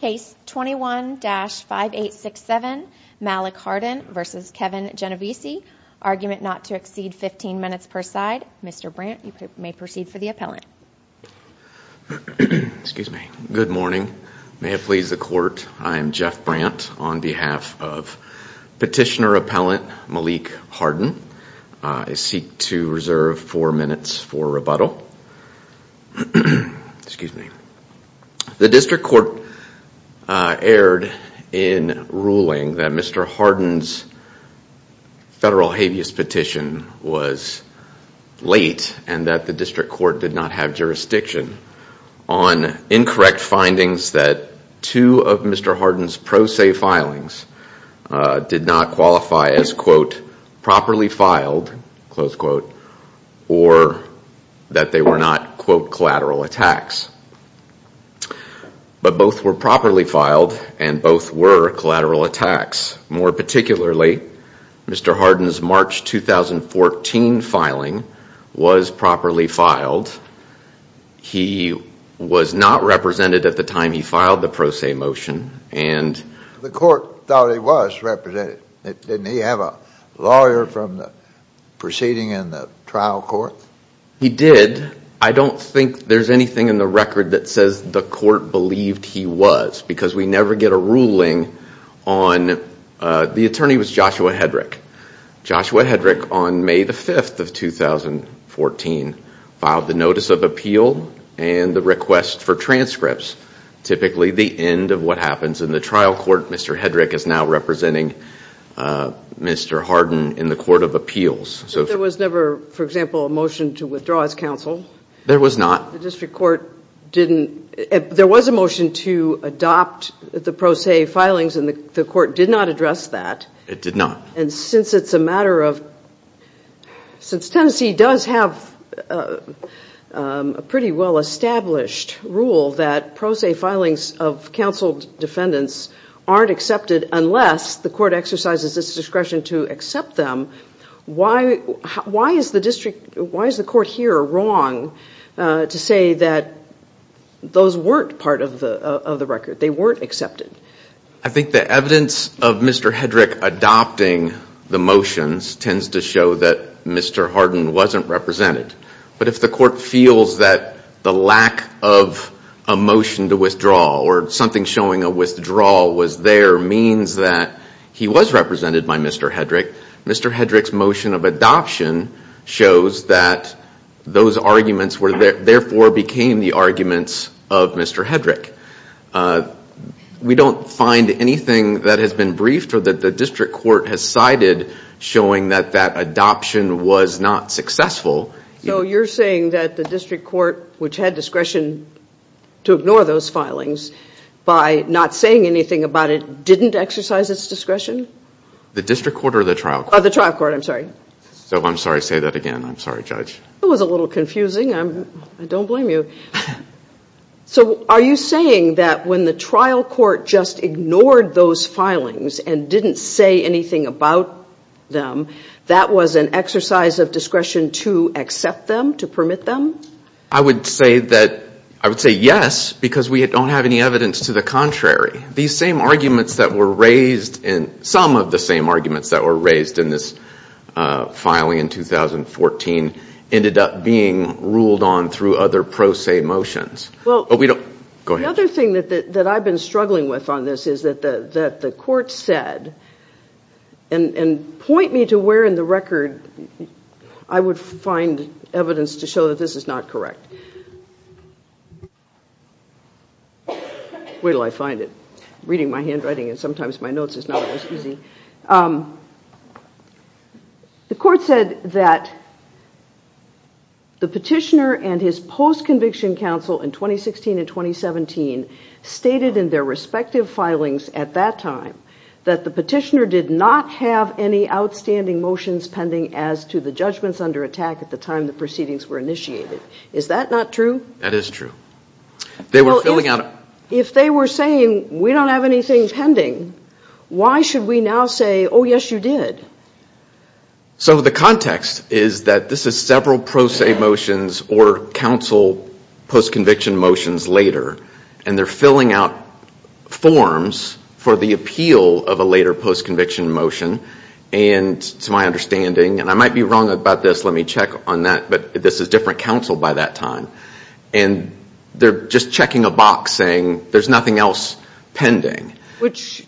Case 21-5867, Malik Hardin v. Kevin Genovese, argument not to exceed 15 minutes per side. Mr. Brandt, you may proceed for the appellant. Good morning. May it please the court, I am Jeff Brandt on behalf of petitioner appellant Malik Hardin. I seek to reserve four minutes for rebuttal. Excuse me. The district court erred in ruling that Mr. Hardin's federal habeas petition was late and that the district court did not have jurisdiction on incorrect findings that two of Mr. Hardin's pro se filings did not qualify as, quote, properly filed, close quote, or that they were not, quote, collateral attacks. But both were properly filed and both were collateral attacks. More particularly, Mr. Hardin's March 2014 filing was properly filed. He was not represented at the time he filed the pro se motion. The court thought he was represented. Didn't he have a lawyer from the proceeding in the trial court? He did. I don't think there's anything in the record that says the court believed he was because we never get a ruling on, the attorney was Joshua Hedrick. Joshua Hedrick on May the 5th of 2014 filed the notice of appeal and the request for transcripts, which is typically the end of what happens in the trial court. Mr. Hedrick is now representing Mr. Hardin in the court of appeals. So there was never, for example, a motion to withdraw his counsel? There was not. The district court didn't. There was a motion to adopt the pro se filings and the court did not address that. It did not. And since it's a matter of, since Tennessee does have a pretty well established rule that pro se filings of counseled defendants aren't accepted unless the court exercises its discretion to accept them, why is the court here wrong to say that those weren't part of the record? They weren't accepted. I think the evidence of Mr. Hedrick adopting the motions tends to show that Mr. Hardin wasn't represented. But if the court feels that the lack of a motion to withdraw or something showing a withdrawal was there means that he was represented by Mr. Hedrick, Mr. Hedrick's motion of adoption shows that those arguments therefore became the arguments of Mr. Hedrick. We don't find anything that has been briefed or that the district court has cited showing that that adoption was not successful. So you're saying that the district court, which had discretion to ignore those filings, by not saying anything about it didn't exercise its discretion? The district court or the trial court? The trial court, I'm sorry. I'm sorry to say that again. I'm sorry, Judge. That was a little confusing. I don't blame you. So are you saying that when the trial court just ignored those filings and didn't say anything about them, that was an exercise of discretion to accept them, to permit them? I would say yes, because we don't have any evidence to the contrary. These same arguments that were raised, some of the same arguments that were raised in this filing in 2014, ended up being ruled on through other pro se motions. Another thing that I've been struggling with on this is that the court said, and point me to where in the record I would find evidence to show that this is not correct. Where do I find it? Reading my handwriting and sometimes my notes is not always easy. The court said that the petitioner and his post-conviction counsel in 2016 and 2017 stated in their respective filings at that time that the petitioner did not have any outstanding motions pending as to the judgments under attack at the time the proceedings were initiated. Is that not true? That is true. If they were saying, we don't have anything pending, why should we now say, oh, yes, you did? So the context is that this is several pro se motions or counsel post-conviction motions later, and they're filling out forms for the appeal of a later post-conviction motion, and to my understanding, and I might be wrong about this, let me check on that, but this is different counsel by that time, and they're just checking a box saying there's nothing else pending. Which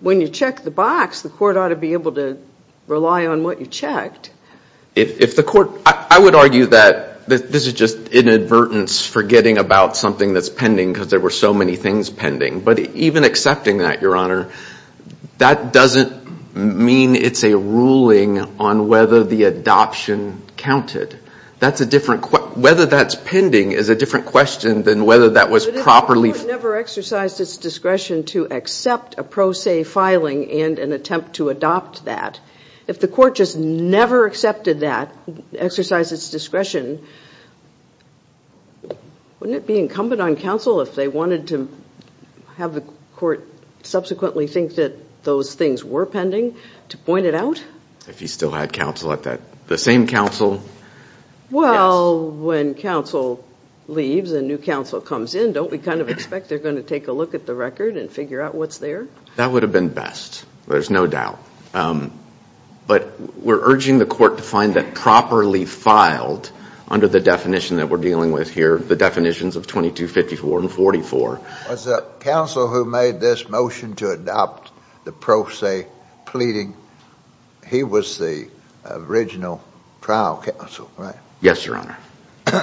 when you check the box, the court ought to be able to rely on what you checked. If the court, I would argue that this is just inadvertence forgetting about something that's pending because there were so many things pending, but even accepting that, Your Honor, that doesn't mean it's a ruling on whether the adoption counted. That's a different, whether that's pending is a different question than whether that was properly. But if the court never exercised its discretion to accept a pro se filing and an attempt to adopt that, if the court just never accepted that, exercised its discretion, wouldn't it be incumbent on counsel if they wanted to have the court subsequently think that those things were pending to point it out? If you still had counsel at that, the same counsel. Well, when counsel leaves and new counsel comes in, don't we kind of expect they're going to take a look at the record and figure out what's there? That would have been best. There's no doubt. But we're urging the court to find that properly filed under the definition that we're dealing with here, the definitions of 2254 and 44. Was the counsel who made this motion to adopt the pro se pleading, he was the original trial counsel, right? Yes, Your Honor.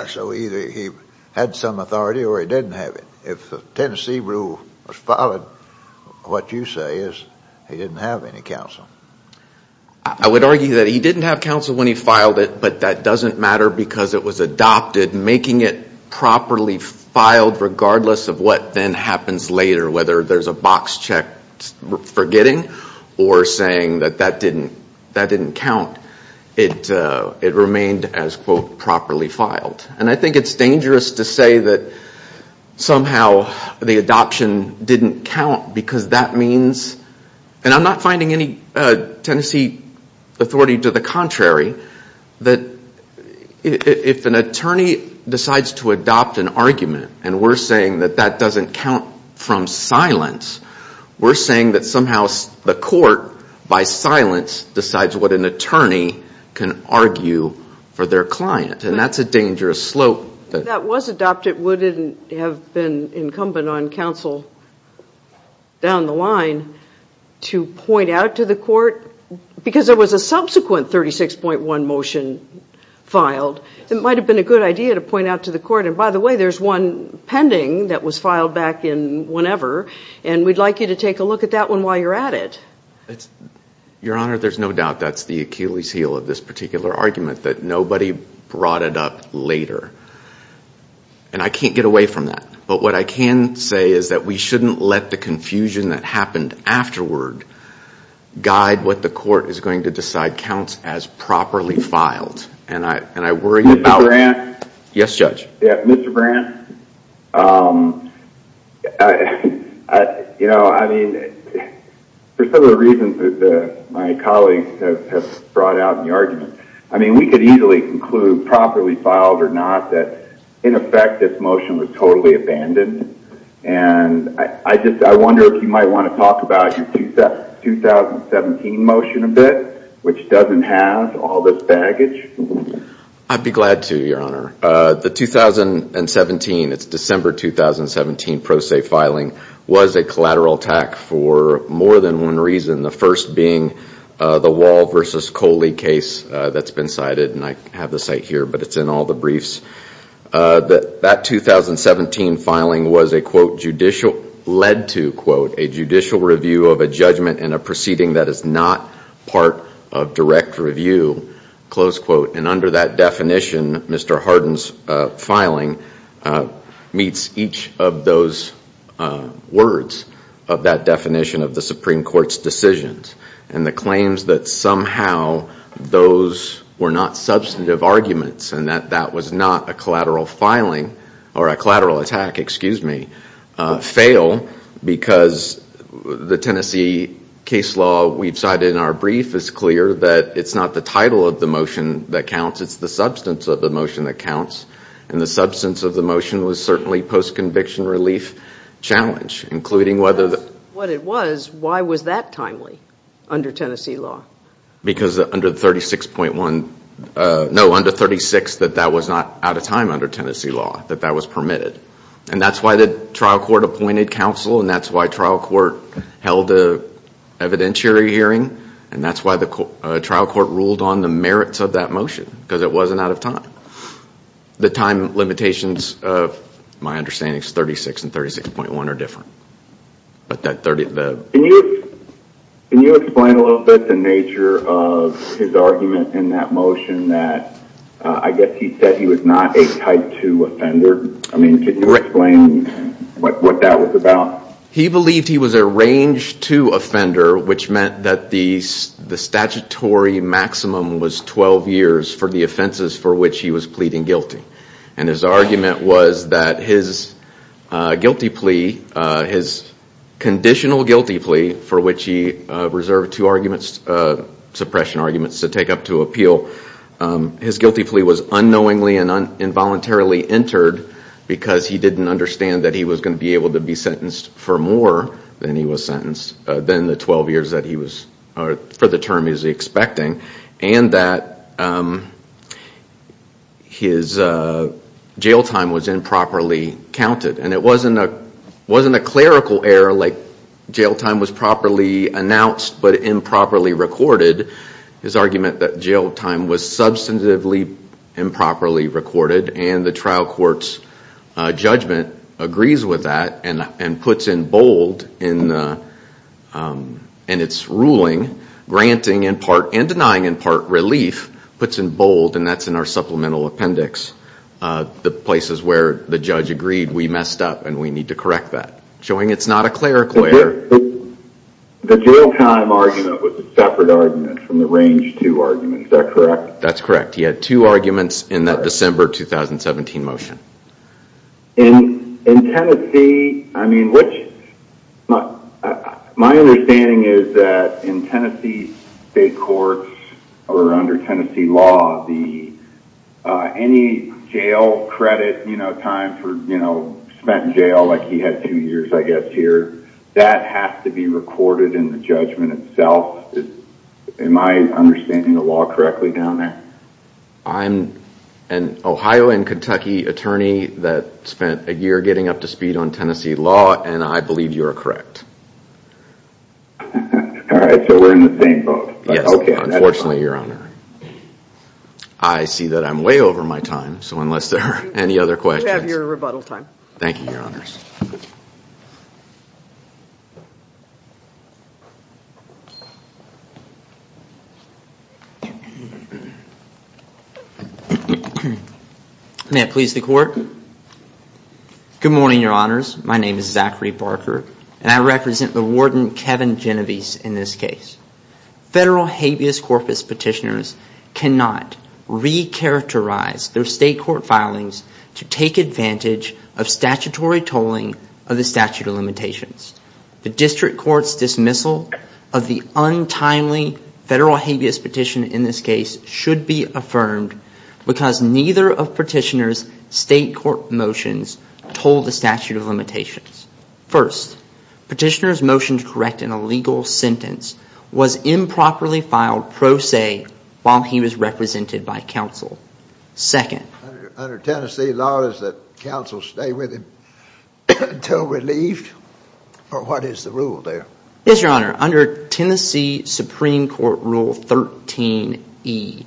So either he had some authority or he didn't have it. If the Tennessee rule was followed, what you say is he didn't have any counsel. I would argue that he didn't have counsel when he filed it, but that doesn't matter because it was adopted. Making it properly filed regardless of what then happens later, whether there's a box check forgetting or saying that that didn't count, it remained as, quote, properly filed. And I think it's dangerous to say that somehow the adoption didn't count because that means, and I'm not finding any Tennessee authority to the contrary, that if an attorney decides to adopt an argument, and we're saying that that doesn't count from silence, we're saying that somehow the court, by silence, decides what an attorney can argue for their client, and that's a dangerous slope. If that was adopted, would it have been incumbent on counsel down the line to point out to the court, because there was a subsequent 36.1 motion filed, it might have been a good idea to point out to the court, and by the way, there's one pending that was filed back in whenever, and we'd like you to take a look at that one while you're at it. Your Honor, there's no doubt that's the Achilles heel of this particular argument, that nobody brought it up later. And I can't get away from that, but what I can say is that we shouldn't let the confusion that happened afterward guide what the court is going to decide counts as properly filed, and I worry... About Grant? Yes, Judge. Mr. Grant, for some of the reasons that my colleagues have brought out in the argument, we could easily conclude, properly filed or not, that in effect this motion was totally abandoned, and I wonder if you might want to talk about your 2017 motion a bit, which doesn't have all this baggage. Your Honor, the 2017, it's December 2017, Pro Se filing, was a collateral attack for more than one reason, the first being the Wall v. Coley case that's been cited, and I have the site here, but it's in all the briefs. That 2017 filing was a, quote, judicial, led to, quote, a judicial review of a judgment in a proceeding that is not part of direct review, close quote, and under that definition, Mr. Harden's filing meets each of those words of that definition of the Supreme Court's decisions, and the claims that somehow those were not substantive arguments and that that was not a collateral filing, or a collateral attack, excuse me, fail because the Tennessee case law that we've cited in our brief is clear that it's not the title of the motion that counts, it's the substance of the motion that counts, and the substance of the motion was certainly post-conviction relief challenge, including whether the... If that's what it was, why was that timely under Tennessee law? Because under 36.1, no, under 36 that that was not out of time under Tennessee law, that that was permitted, and that's why the trial court appointed counsel, and that's why trial court held an evidentiary hearing, and that's why the trial court ruled on the merits of that motion, because it wasn't out of time. The time limitations of my understanding is 36 and 36.1 are different, but that 30... Can you explain a little bit the nature of his argument in that motion that I guess he said he was not a type 2 offender? I mean, can you explain what that was about? He believed he was a range 2 offender, which meant that the statutory maximum was 12 years for the offenses for which he was pleading guilty, and his argument was that his guilty plea, his conditional guilty plea, for which he reserved two suppression arguments to take up to appeal, his guilty plea was unknowingly and involuntarily entered because he didn't understand that he was going to be able to be sentenced for more than he was sentenced, than the 12 years that he was, for the term he was expecting, and that his jail time was improperly counted, and it wasn't a clerical error, like jail time was properly announced but improperly recorded. His argument that jail time was substantively improperly recorded, and the trial court's judgment agrees with that and puts in bold in its ruling, granting in part and denying in part relief, puts in bold, and that's in our supplemental appendix, the places where the judge agreed we messed up and we need to correct that, showing it's not a clerical error. The jail time argument was a separate argument from the range 2 argument, is that correct? That's correct, he had two arguments in that December 2017 motion. In Tennessee, my understanding is that in Tennessee state courts, or under Tennessee law, any jail credit time spent in jail, like he had two years I guess here, has to be recorded in the judgment itself. Am I understanding the law correctly down there? I'm an Ohio and Kentucky attorney that spent a year getting up to speed on Tennessee law, and I believe you are correct. Alright, so we're in the same boat. Yes, unfortunately your honor. I see that I'm way over my time, so unless there are any other questions. You have your rebuttal time. May it please the court, good morning your honors, my name is Zachary Barker, and I represent the warden Kevin Genovese in this case. Federal habeas corpus petitioners cannot re-characterize their state court filings to take advantage of the statutory tolling of the statute of limitations. The district court's dismissal of the untimely federal habeas petition in this case should be affirmed because neither of petitioner's state court motions told the statute of limitations. First, petitioner's motion to correct an illegal sentence was improperly filed pro se while he was represented by counsel. Under Tennessee law, does the counsel stay with him until relieved, or what is the rule there? Yes, your honor, under Tennessee Supreme Court Rule 13E,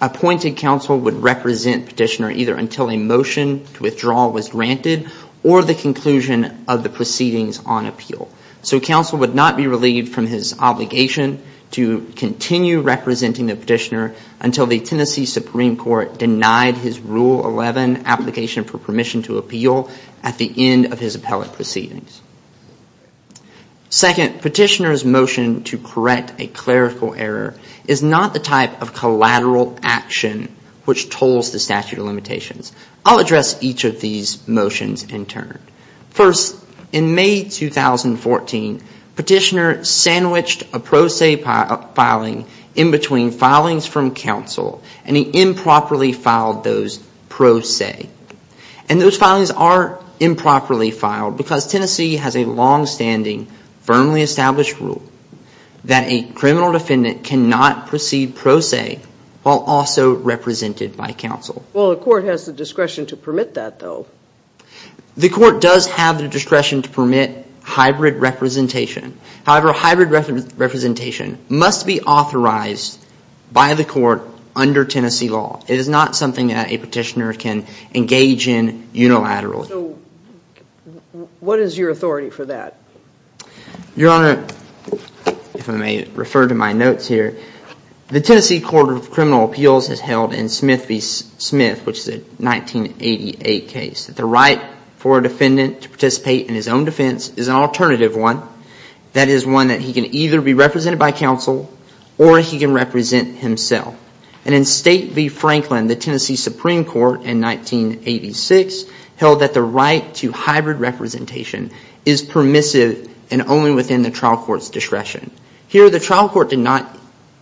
appointed counsel would represent petitioner either until a motion to withdraw was granted or the conclusion of the proceedings on appeal. So counsel would not be relieved from his obligation to continue representing the petitioner until the Tennessee Supreme Court denied his Rule 11 application for permission to appeal at the end of his appellate proceedings. Second, petitioner's motion to correct a clerical error is not the type of collateral action which tolls the statute of limitations. I'll address each of these motions in turn. First, in May 2014, petitioner sandwiched a pro se filing in between filings from counsel and he improperly filed those pro se. And those filings are improperly filed because Tennessee has a longstanding, firmly established rule that a criminal defendant cannot proceed pro se while also represented by counsel. Well, the court has the discretion to permit that, though. The court does have the discretion to permit hybrid representation. However, hybrid representation must be authorized by the court under Tennessee law. It is not something that a petitioner can engage in unilaterally. So what is your authority for that? Your Honor, if I may refer to my notes here, the Tennessee Court of Criminal Appeals has held in Smith v. Smith, which is a 1988 case, that the right for a defendant to participate in his own defense is an alternative one. That is one that he can either be represented by counsel or he can represent himself. And in State v. Franklin, the Tennessee Supreme Court in 1986 held that the right to hybrid representation is permissive and only within the trial court's discretion. Here, the trial court did not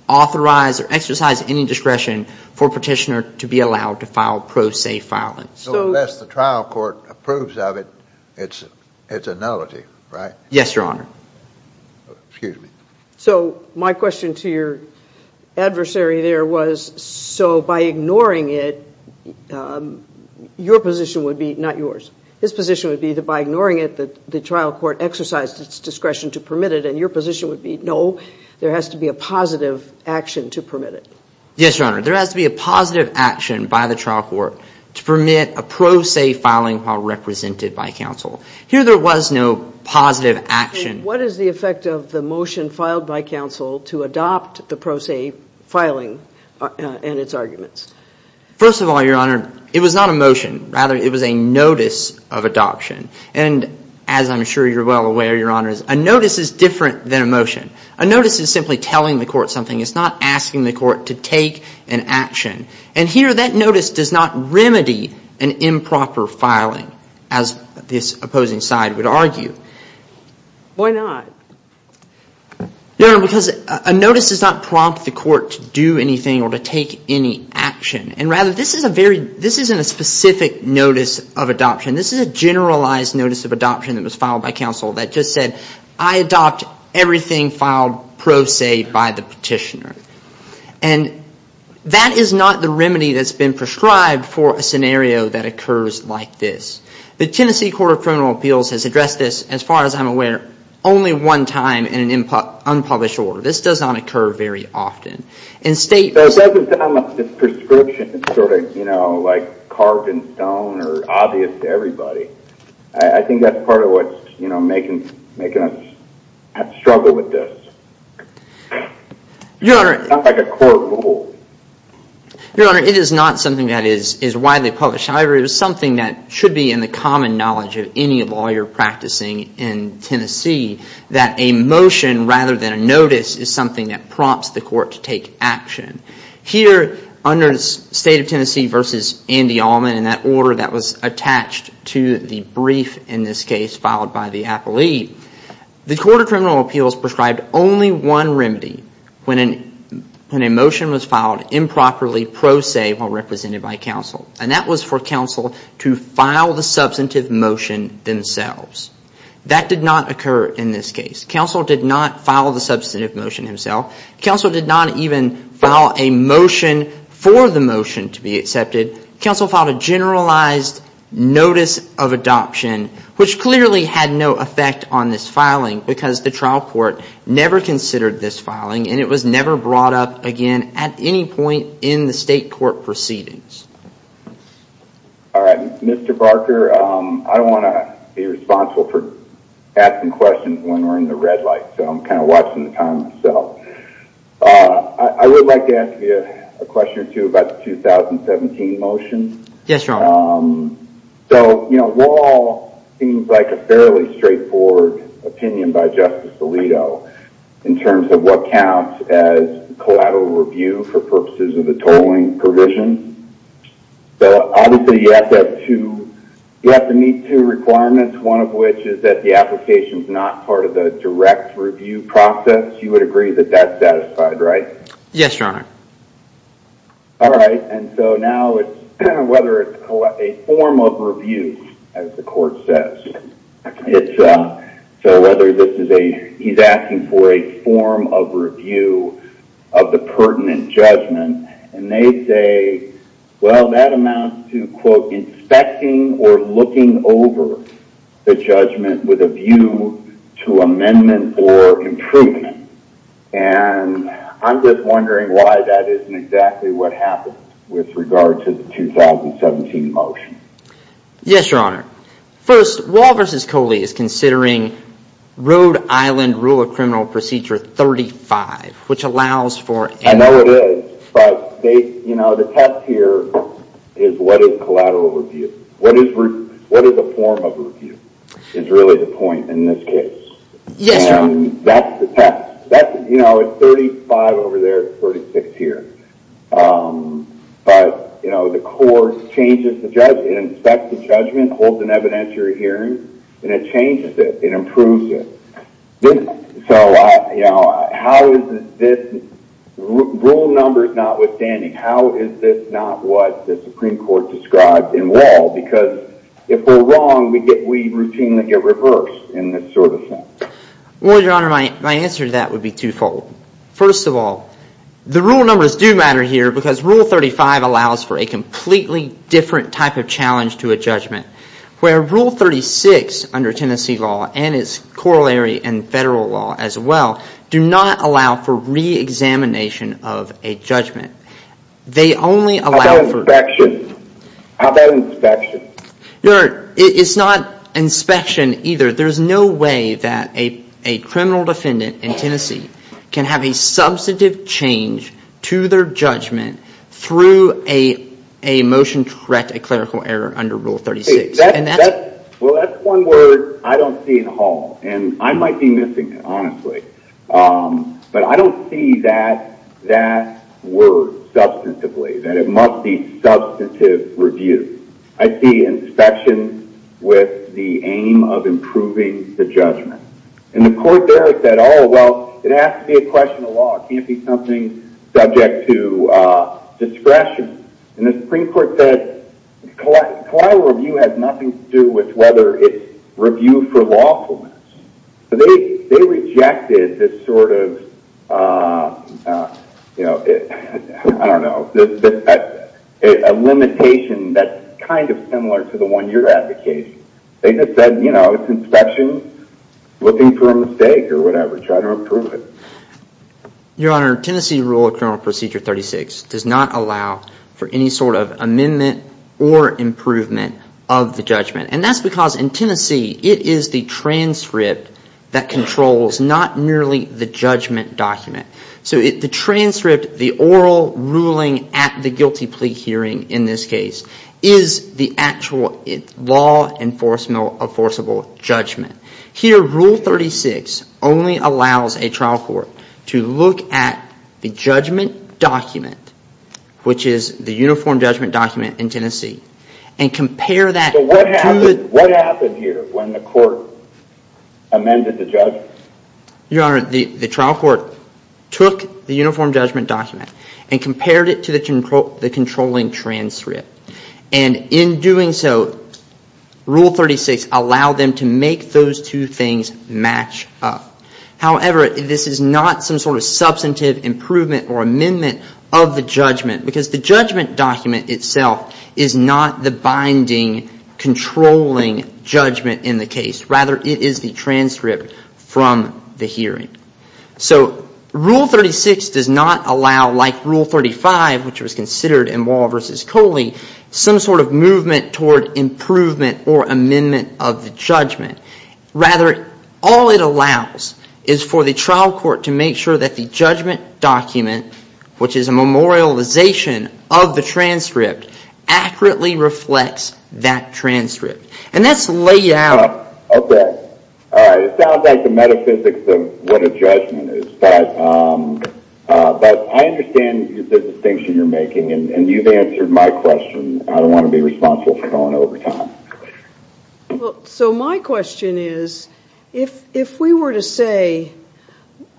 authorize or exercise any discretion for a petitioner to be allowed to file pro se filings. So unless the trial court approves of it, it's a nullity, right? Yes, Your Honor. Excuse me. So my question to your adversary there was, so by ignoring it, your position would be, not yours, his position would be that by ignoring it, the trial court exercised its discretion to permit it. And your position would be, no, there has to be a positive action to permit it. Yes, Your Honor. There has to be a positive action by the trial court to permit a pro se filing while represented by counsel. Here, there was no positive action. First of all, Your Honor, it was not a motion. Rather, it was a notice of adoption. And as I'm sure you're well aware, Your Honor, a notice is different than a motion. A notice is simply telling the court something. It's not asking the court to take an action. And here, that notice does not remedy an improper filing, as this opposing side would argue. Why not? Your Honor, because a notice does not prompt the court to do anything or to take any action. And rather, this is a very, this isn't a specific notice of adoption. This is a generalized notice of adoption that was filed by counsel that just said, I adopt everything filed pro se by the petitioner. And that is not the remedy that's been prescribed for a scenario that occurs like this. The Tennessee Court of Criminal Appeals has addressed this, as far as I'm aware, only one time in an unpublished order. This does not occur very often. So it doesn't sound like this prescription is sort of, you know, like carved in stone or obvious to everybody. I think that's part of what's making us struggle with this. It's not like a court rule. Your Honor, it is not something that is widely published. However, it is something that should be in the common knowledge of any lawyer practicing in Tennessee, that a motion rather than a notice is something that prompts the court to take action. Here, under State of Tennessee v. Andy Allman, in that order that was attached to the brief in this case filed by the appellee, the Court of Criminal Appeals prescribed only one remedy when a motion was filed improperly pro se while represented by counsel. And that was for counsel to file the substantive motion themselves. That did not occur in this case. Counsel did not file the substantive motion himself. Counsel filed a motion for the motion to be accepted. Counsel filed a generalized notice of adoption, which clearly had no effect on this filing because the trial court never considered this filing and it was never brought up again at any point in the state court proceedings. All right. Mr. Barker, I want to be responsible for asking questions when we're in the red light. So I'm kind of watching the time myself. I would like to ask you a question or two about the 2017 motion. Yes, Your Honor. So, you know, the law seems like a fairly straightforward opinion by Justice Alito in terms of what counts as collateral review for purposes of the tolling provision. Obviously, you have to meet two requirements, one of which is that the application is not part of the direct review process. You would agree that that's satisfied, right? Yes, Your Honor. All right. And so now it's whether it's a form of review, as the court says. So whether this is a he's asking for a form of review of the pertinent judgment. And they say, well, that amounts to, quote, inspecting or looking over the judgment with a view to amendment or improvement. And I'm just wondering why that isn't exactly what happened with regard to the 2017 motion. Yes, Your Honor. First, Wall v. Coley is considering Rhode Island Rule of Criminal Procedure 35, which allows for... I know it is, but the test here is what is collateral review? What is a form of review is really the point in this case. Yes, Your Honor. And that's the test. You know, it's 35 over there, it's 36 here. But, you know, the court changes the judgment, inspects the judgment, holds an evidentiary hearing, and it changes it. It improves it. Rule number is notwithstanding. How is this not what the Supreme Court described in Wall? Because if we're wrong, we routinely get reversed in this sort of thing. Well, Your Honor, my answer to that would be twofold. First of all, the rule numbers do matter here because Rule 35 allows for a completely different type of challenge to a judgment. Where Rule 36 under Tennessee law and its corollary and federal law as well do not allow for reexamination of a judgment. They only allow for... How about inspection? Your Honor, it's not inspection either. There's no way that a criminal defendant in Tennessee can have a substantive change to their judgment through a motion to correct a clerical error under Rule 36. Well, that's one word I don't see at all. And I might be missing it, honestly. But I don't see that word substantively, that it must be substantive review. I see inspection with the aim of improving the judgment. And the court there said, oh, well, it has to be a question of law. It can't be something subject to discretion. And the Supreme Court said collateral review has nothing to do with whether it's review for lawfulness. They rejected this sort of, I don't know, a limitation that's kind of similar to the one you're advocating. They just said it's inspection, looking for a mistake or whatever, trying to improve it. Your Honor, Tennessee Rule of Criminal Procedure 36 does not allow for any sort of amendment or improvement of the judgment. And that's because in Tennessee, it is the transcript that controls, not merely the judgment document. So the transcript, the oral ruling at the guilty plea hearing in this case, is the actual law enforceable judgment. Here, Rule 36 only allows a trial court to look at the judgment document, which is the uniform judgment document in Tennessee, and compare that to the... So what happened here when the court amended the judgment? Your Honor, the trial court took the uniform judgment document and compared it to the controlling transcript. And in doing so, Rule 36 allowed them to make those two things match up. However, this is not some sort of substantive improvement or amendment of the judgment, because the judgment document itself is not the binding, controlling judgment in the case. Rather, it is the transcript from the hearing. So Rule 36 does not allow, like Rule 35, which was considered in Wall v. Coley, some sort of movement toward improvement or amendment of the judgment. Rather, all it allows is for the trial court to make sure that the judgment document, which is a memorialization document, a memorialization of the transcript, accurately reflects that transcript. And that's the layout of that. It sounds like the metaphysics of what a judgment is, but I understand the distinction you're making. And you've answered my question. I don't want to be responsible for going over time. So my question is, if we were to say,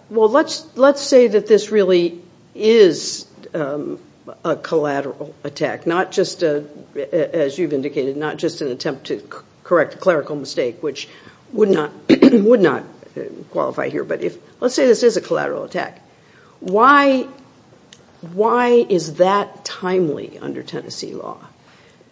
well, let's say that this really is a collateral attack. Not just, as you've indicated, not just an attempt to correct a clerical mistake, which would not qualify here. But let's say this is a collateral attack. Why is that timely under Tennessee law?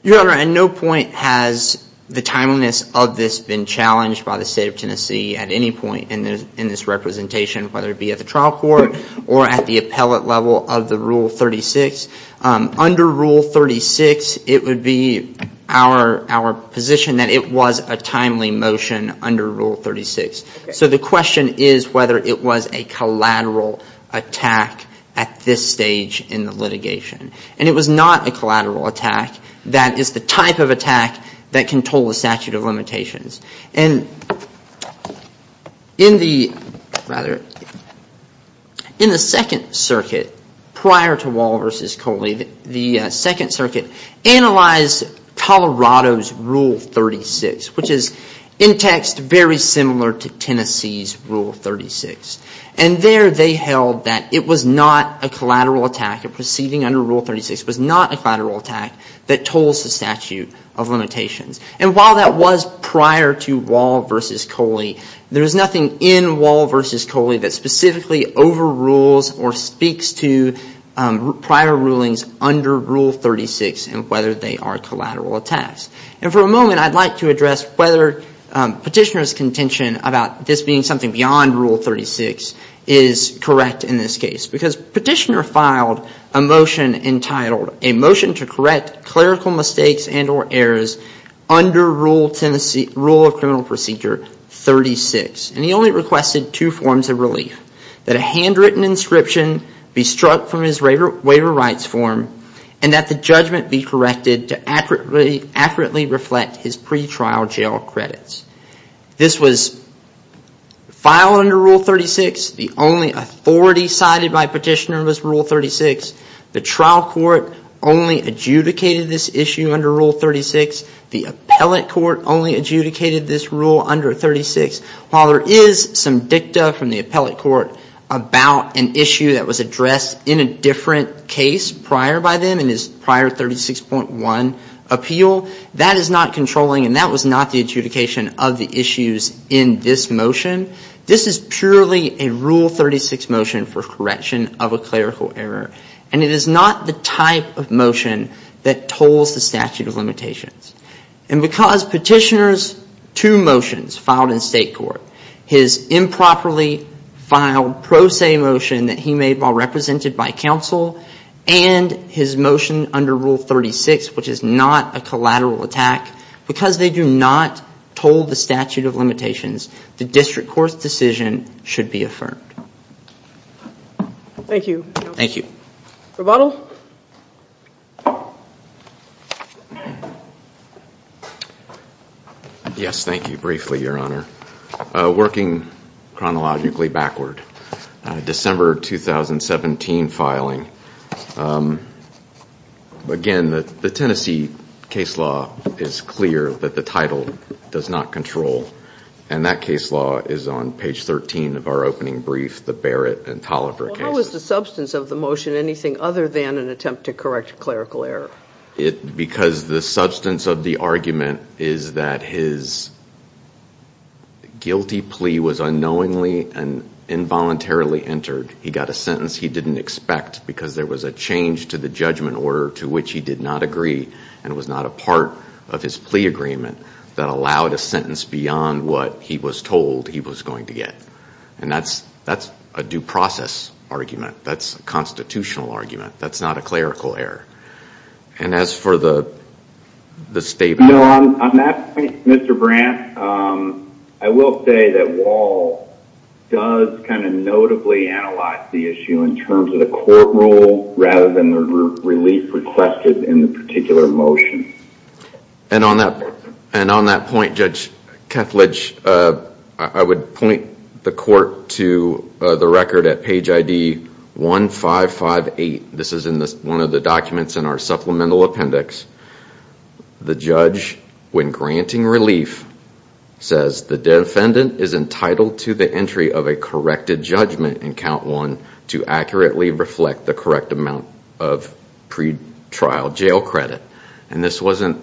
Your Honor, at no point has the timeliness of this been challenged by the State of Tennessee at any point in this representation, whether it be at the trial court or at the appellate level of the Rule 36. Under Rule 36, it would be our position that it was a timely motion under Rule 36. So the question is whether it was a collateral attack at this stage in the litigation. And it was not a collateral attack. That is the type of attack that can toll the statute of limitations. And in the second circuit, prior to Wall v. Coley, the second circuit analyzed Colorado's Rule 36, which is in text very similar to Tennessee's Rule 36. And there they held that it was not a collateral attack, a proceeding under Rule 36 was not a collateral attack that tolls the statute of limitations. And while that was prior to Wall v. Coley, there is nothing in Wall v. Coley that specifically overrules or speaks to prior rulings under Rule 36 and whether they are collateral attacks. And for a moment, I'd like to address whether Petitioner's contention about this being something beyond Rule 36 is correct in this case. Because Petitioner filed a motion entitled, A Motion to Correct Clerical Mistakes and or Errors Under Rule of Criminal Procedure 36. And he only requested two forms of relief, that a handwritten inscription be struck from his waiver rights form, and that the judgment be corrected to accurately reflect his pretrial jail credits. This was filed under Rule 36. The only authority cited by Petitioner was Rule 36. The trial court only adjudicated this issue under Rule 36. The appellate court only adjudicated this rule under 36. While there is some dicta from the appellate court about an issue that was addressed in a different case prior by them in his prior 36.1 appeal, that is not controlling and that was not the adjudication of the issues in this motion. This is purely a Rule 36 motion for correction of a clerical error. And it is not the type of motion that tolls the statute of limitations. And because Petitioner's two motions filed in state court, his improperly filed pro se motion that he made while represented by counsel, and his motion under Rule 36, which is not a collateral attack, because they do not toll the statute of limitations, the district court's decision should be affirmed. Thank you. Yes, thank you. Briefly, Your Honor. Working chronologically backward. December 2017 filing. Again, the Tennessee case law is clear that the title does not control. And that case law is on page 13 of our opening brief, the Barrett and Toliver case. What was the substance of the motion? Anything other than an attempt to correct clerical error? Because the substance of the argument is that his guilty plea was unknowingly and involuntarily entered. He got a sentence he didn't expect because there was a change to the judgment order to which he did not agree and was not a part of his plea agreement that allowed a sentence beyond what he was told he was going to get. And that's a due process argument. That's a constitutional argument. That's not a clerical error. And as for the statement... No, on that point, Mr. Brandt, I will say that Wahl does kind of notably analyze the issue in terms of the court rule, rather than the relief requested in the particular motion. And on that point, Judge Kethledge, I would point the court to the record at page ID 1558. This is in one of the documents in our supplemental appendix. The judge, when granting relief, says the defendant is entitled to the entry of a corrected judgment in count one to accurately reflect the correct amount of pretrial jail credit. And this was a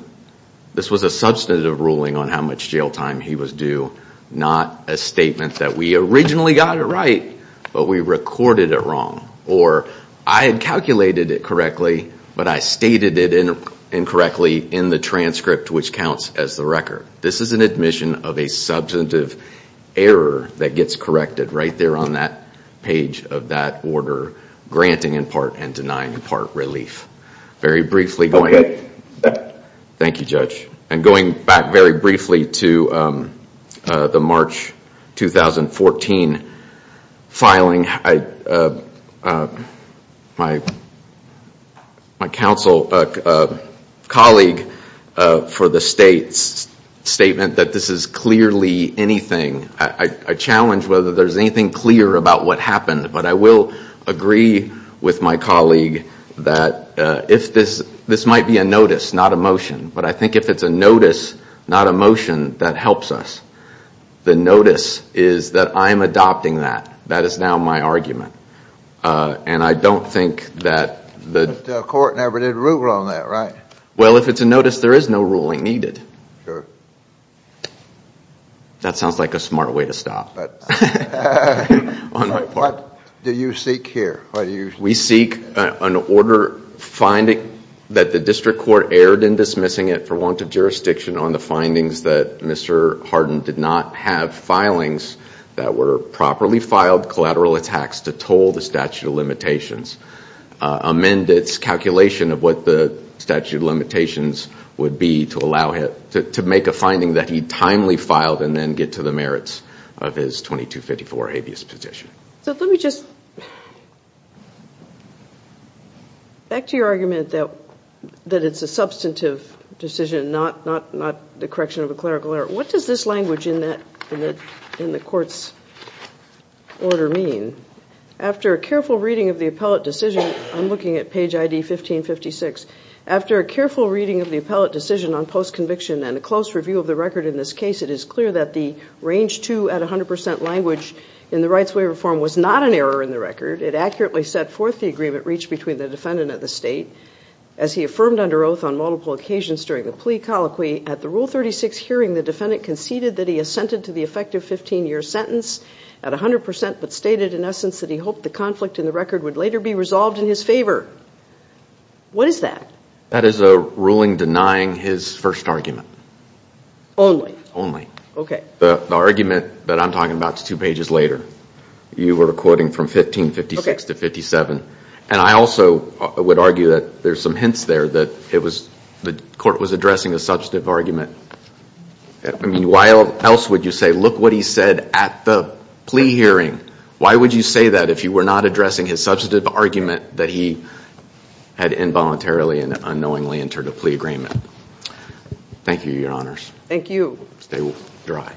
substantive ruling on how much jail time he was due. Not a statement that we originally got it right, but we recorded it wrong. Or I had calculated it correctly, but I stated it incorrectly in the transcript, which counts as the record. This is an admission of a substantive error that gets corrected right there on that page of that order, granting in part and denying in part relief. Thank you, Judge. And going back very briefly to the March 2014 filing, my colleague for the state's statement that this is clearly anything. I challenge whether there's anything clear about what happened, but I will agree with my colleague that this might be a notice, not a motion. But I think if it's a notice, not a motion, that helps us. The notice is that I'm adopting that. That is now my argument. And I don't think that the court ever did rule on that, right? Well, if it's a notice, there is no ruling needed. That sounds like a smart way to stop. But what do you seek here? We seek an order finding that the district court erred in dismissing it for want of jurisdiction on the findings that Mr. Hardin did not have filings that were properly filed collateral attacks to toll the statute of limitations. Amend its calculation of what the statute of limitations would be to allow him to make a finding that he timely filed and then get to the merits of his claim. So let me just, back to your argument that it's a substantive decision, not the correction of a clerical error. What does this language in the court's order mean? After a careful reading of the appellate decision, I'm looking at page ID 1556. After a careful reading of the appellate decision on post-conviction and a close review of the record in this case, it is clear that the range two at 100 percent language in the rights waiver form was not an error in the record. It accurately set forth the agreement reached between the defendant and the state as he affirmed under oath on multiple occasions during the plea colloquy. At the Rule 36 hearing, the defendant conceded that he assented to the effective 15-year sentence at 100 percent, but stated in essence that he hoped the conflict in the record would later be resolved in his favor. What is that? That is a ruling denying his first argument. Only? Only. Okay. The argument that I'm talking about is two pages later. You were quoting from 1556 to 57. I also would argue that there's some hints there that the court was addressing a substantive argument. Why else would you say, look what he said at the plea hearing? Why would you say that if you were not addressing his substantive argument that he had involuntarily and unknowingly entered a plea agreement? Thank you, Your Honors. Stay dry.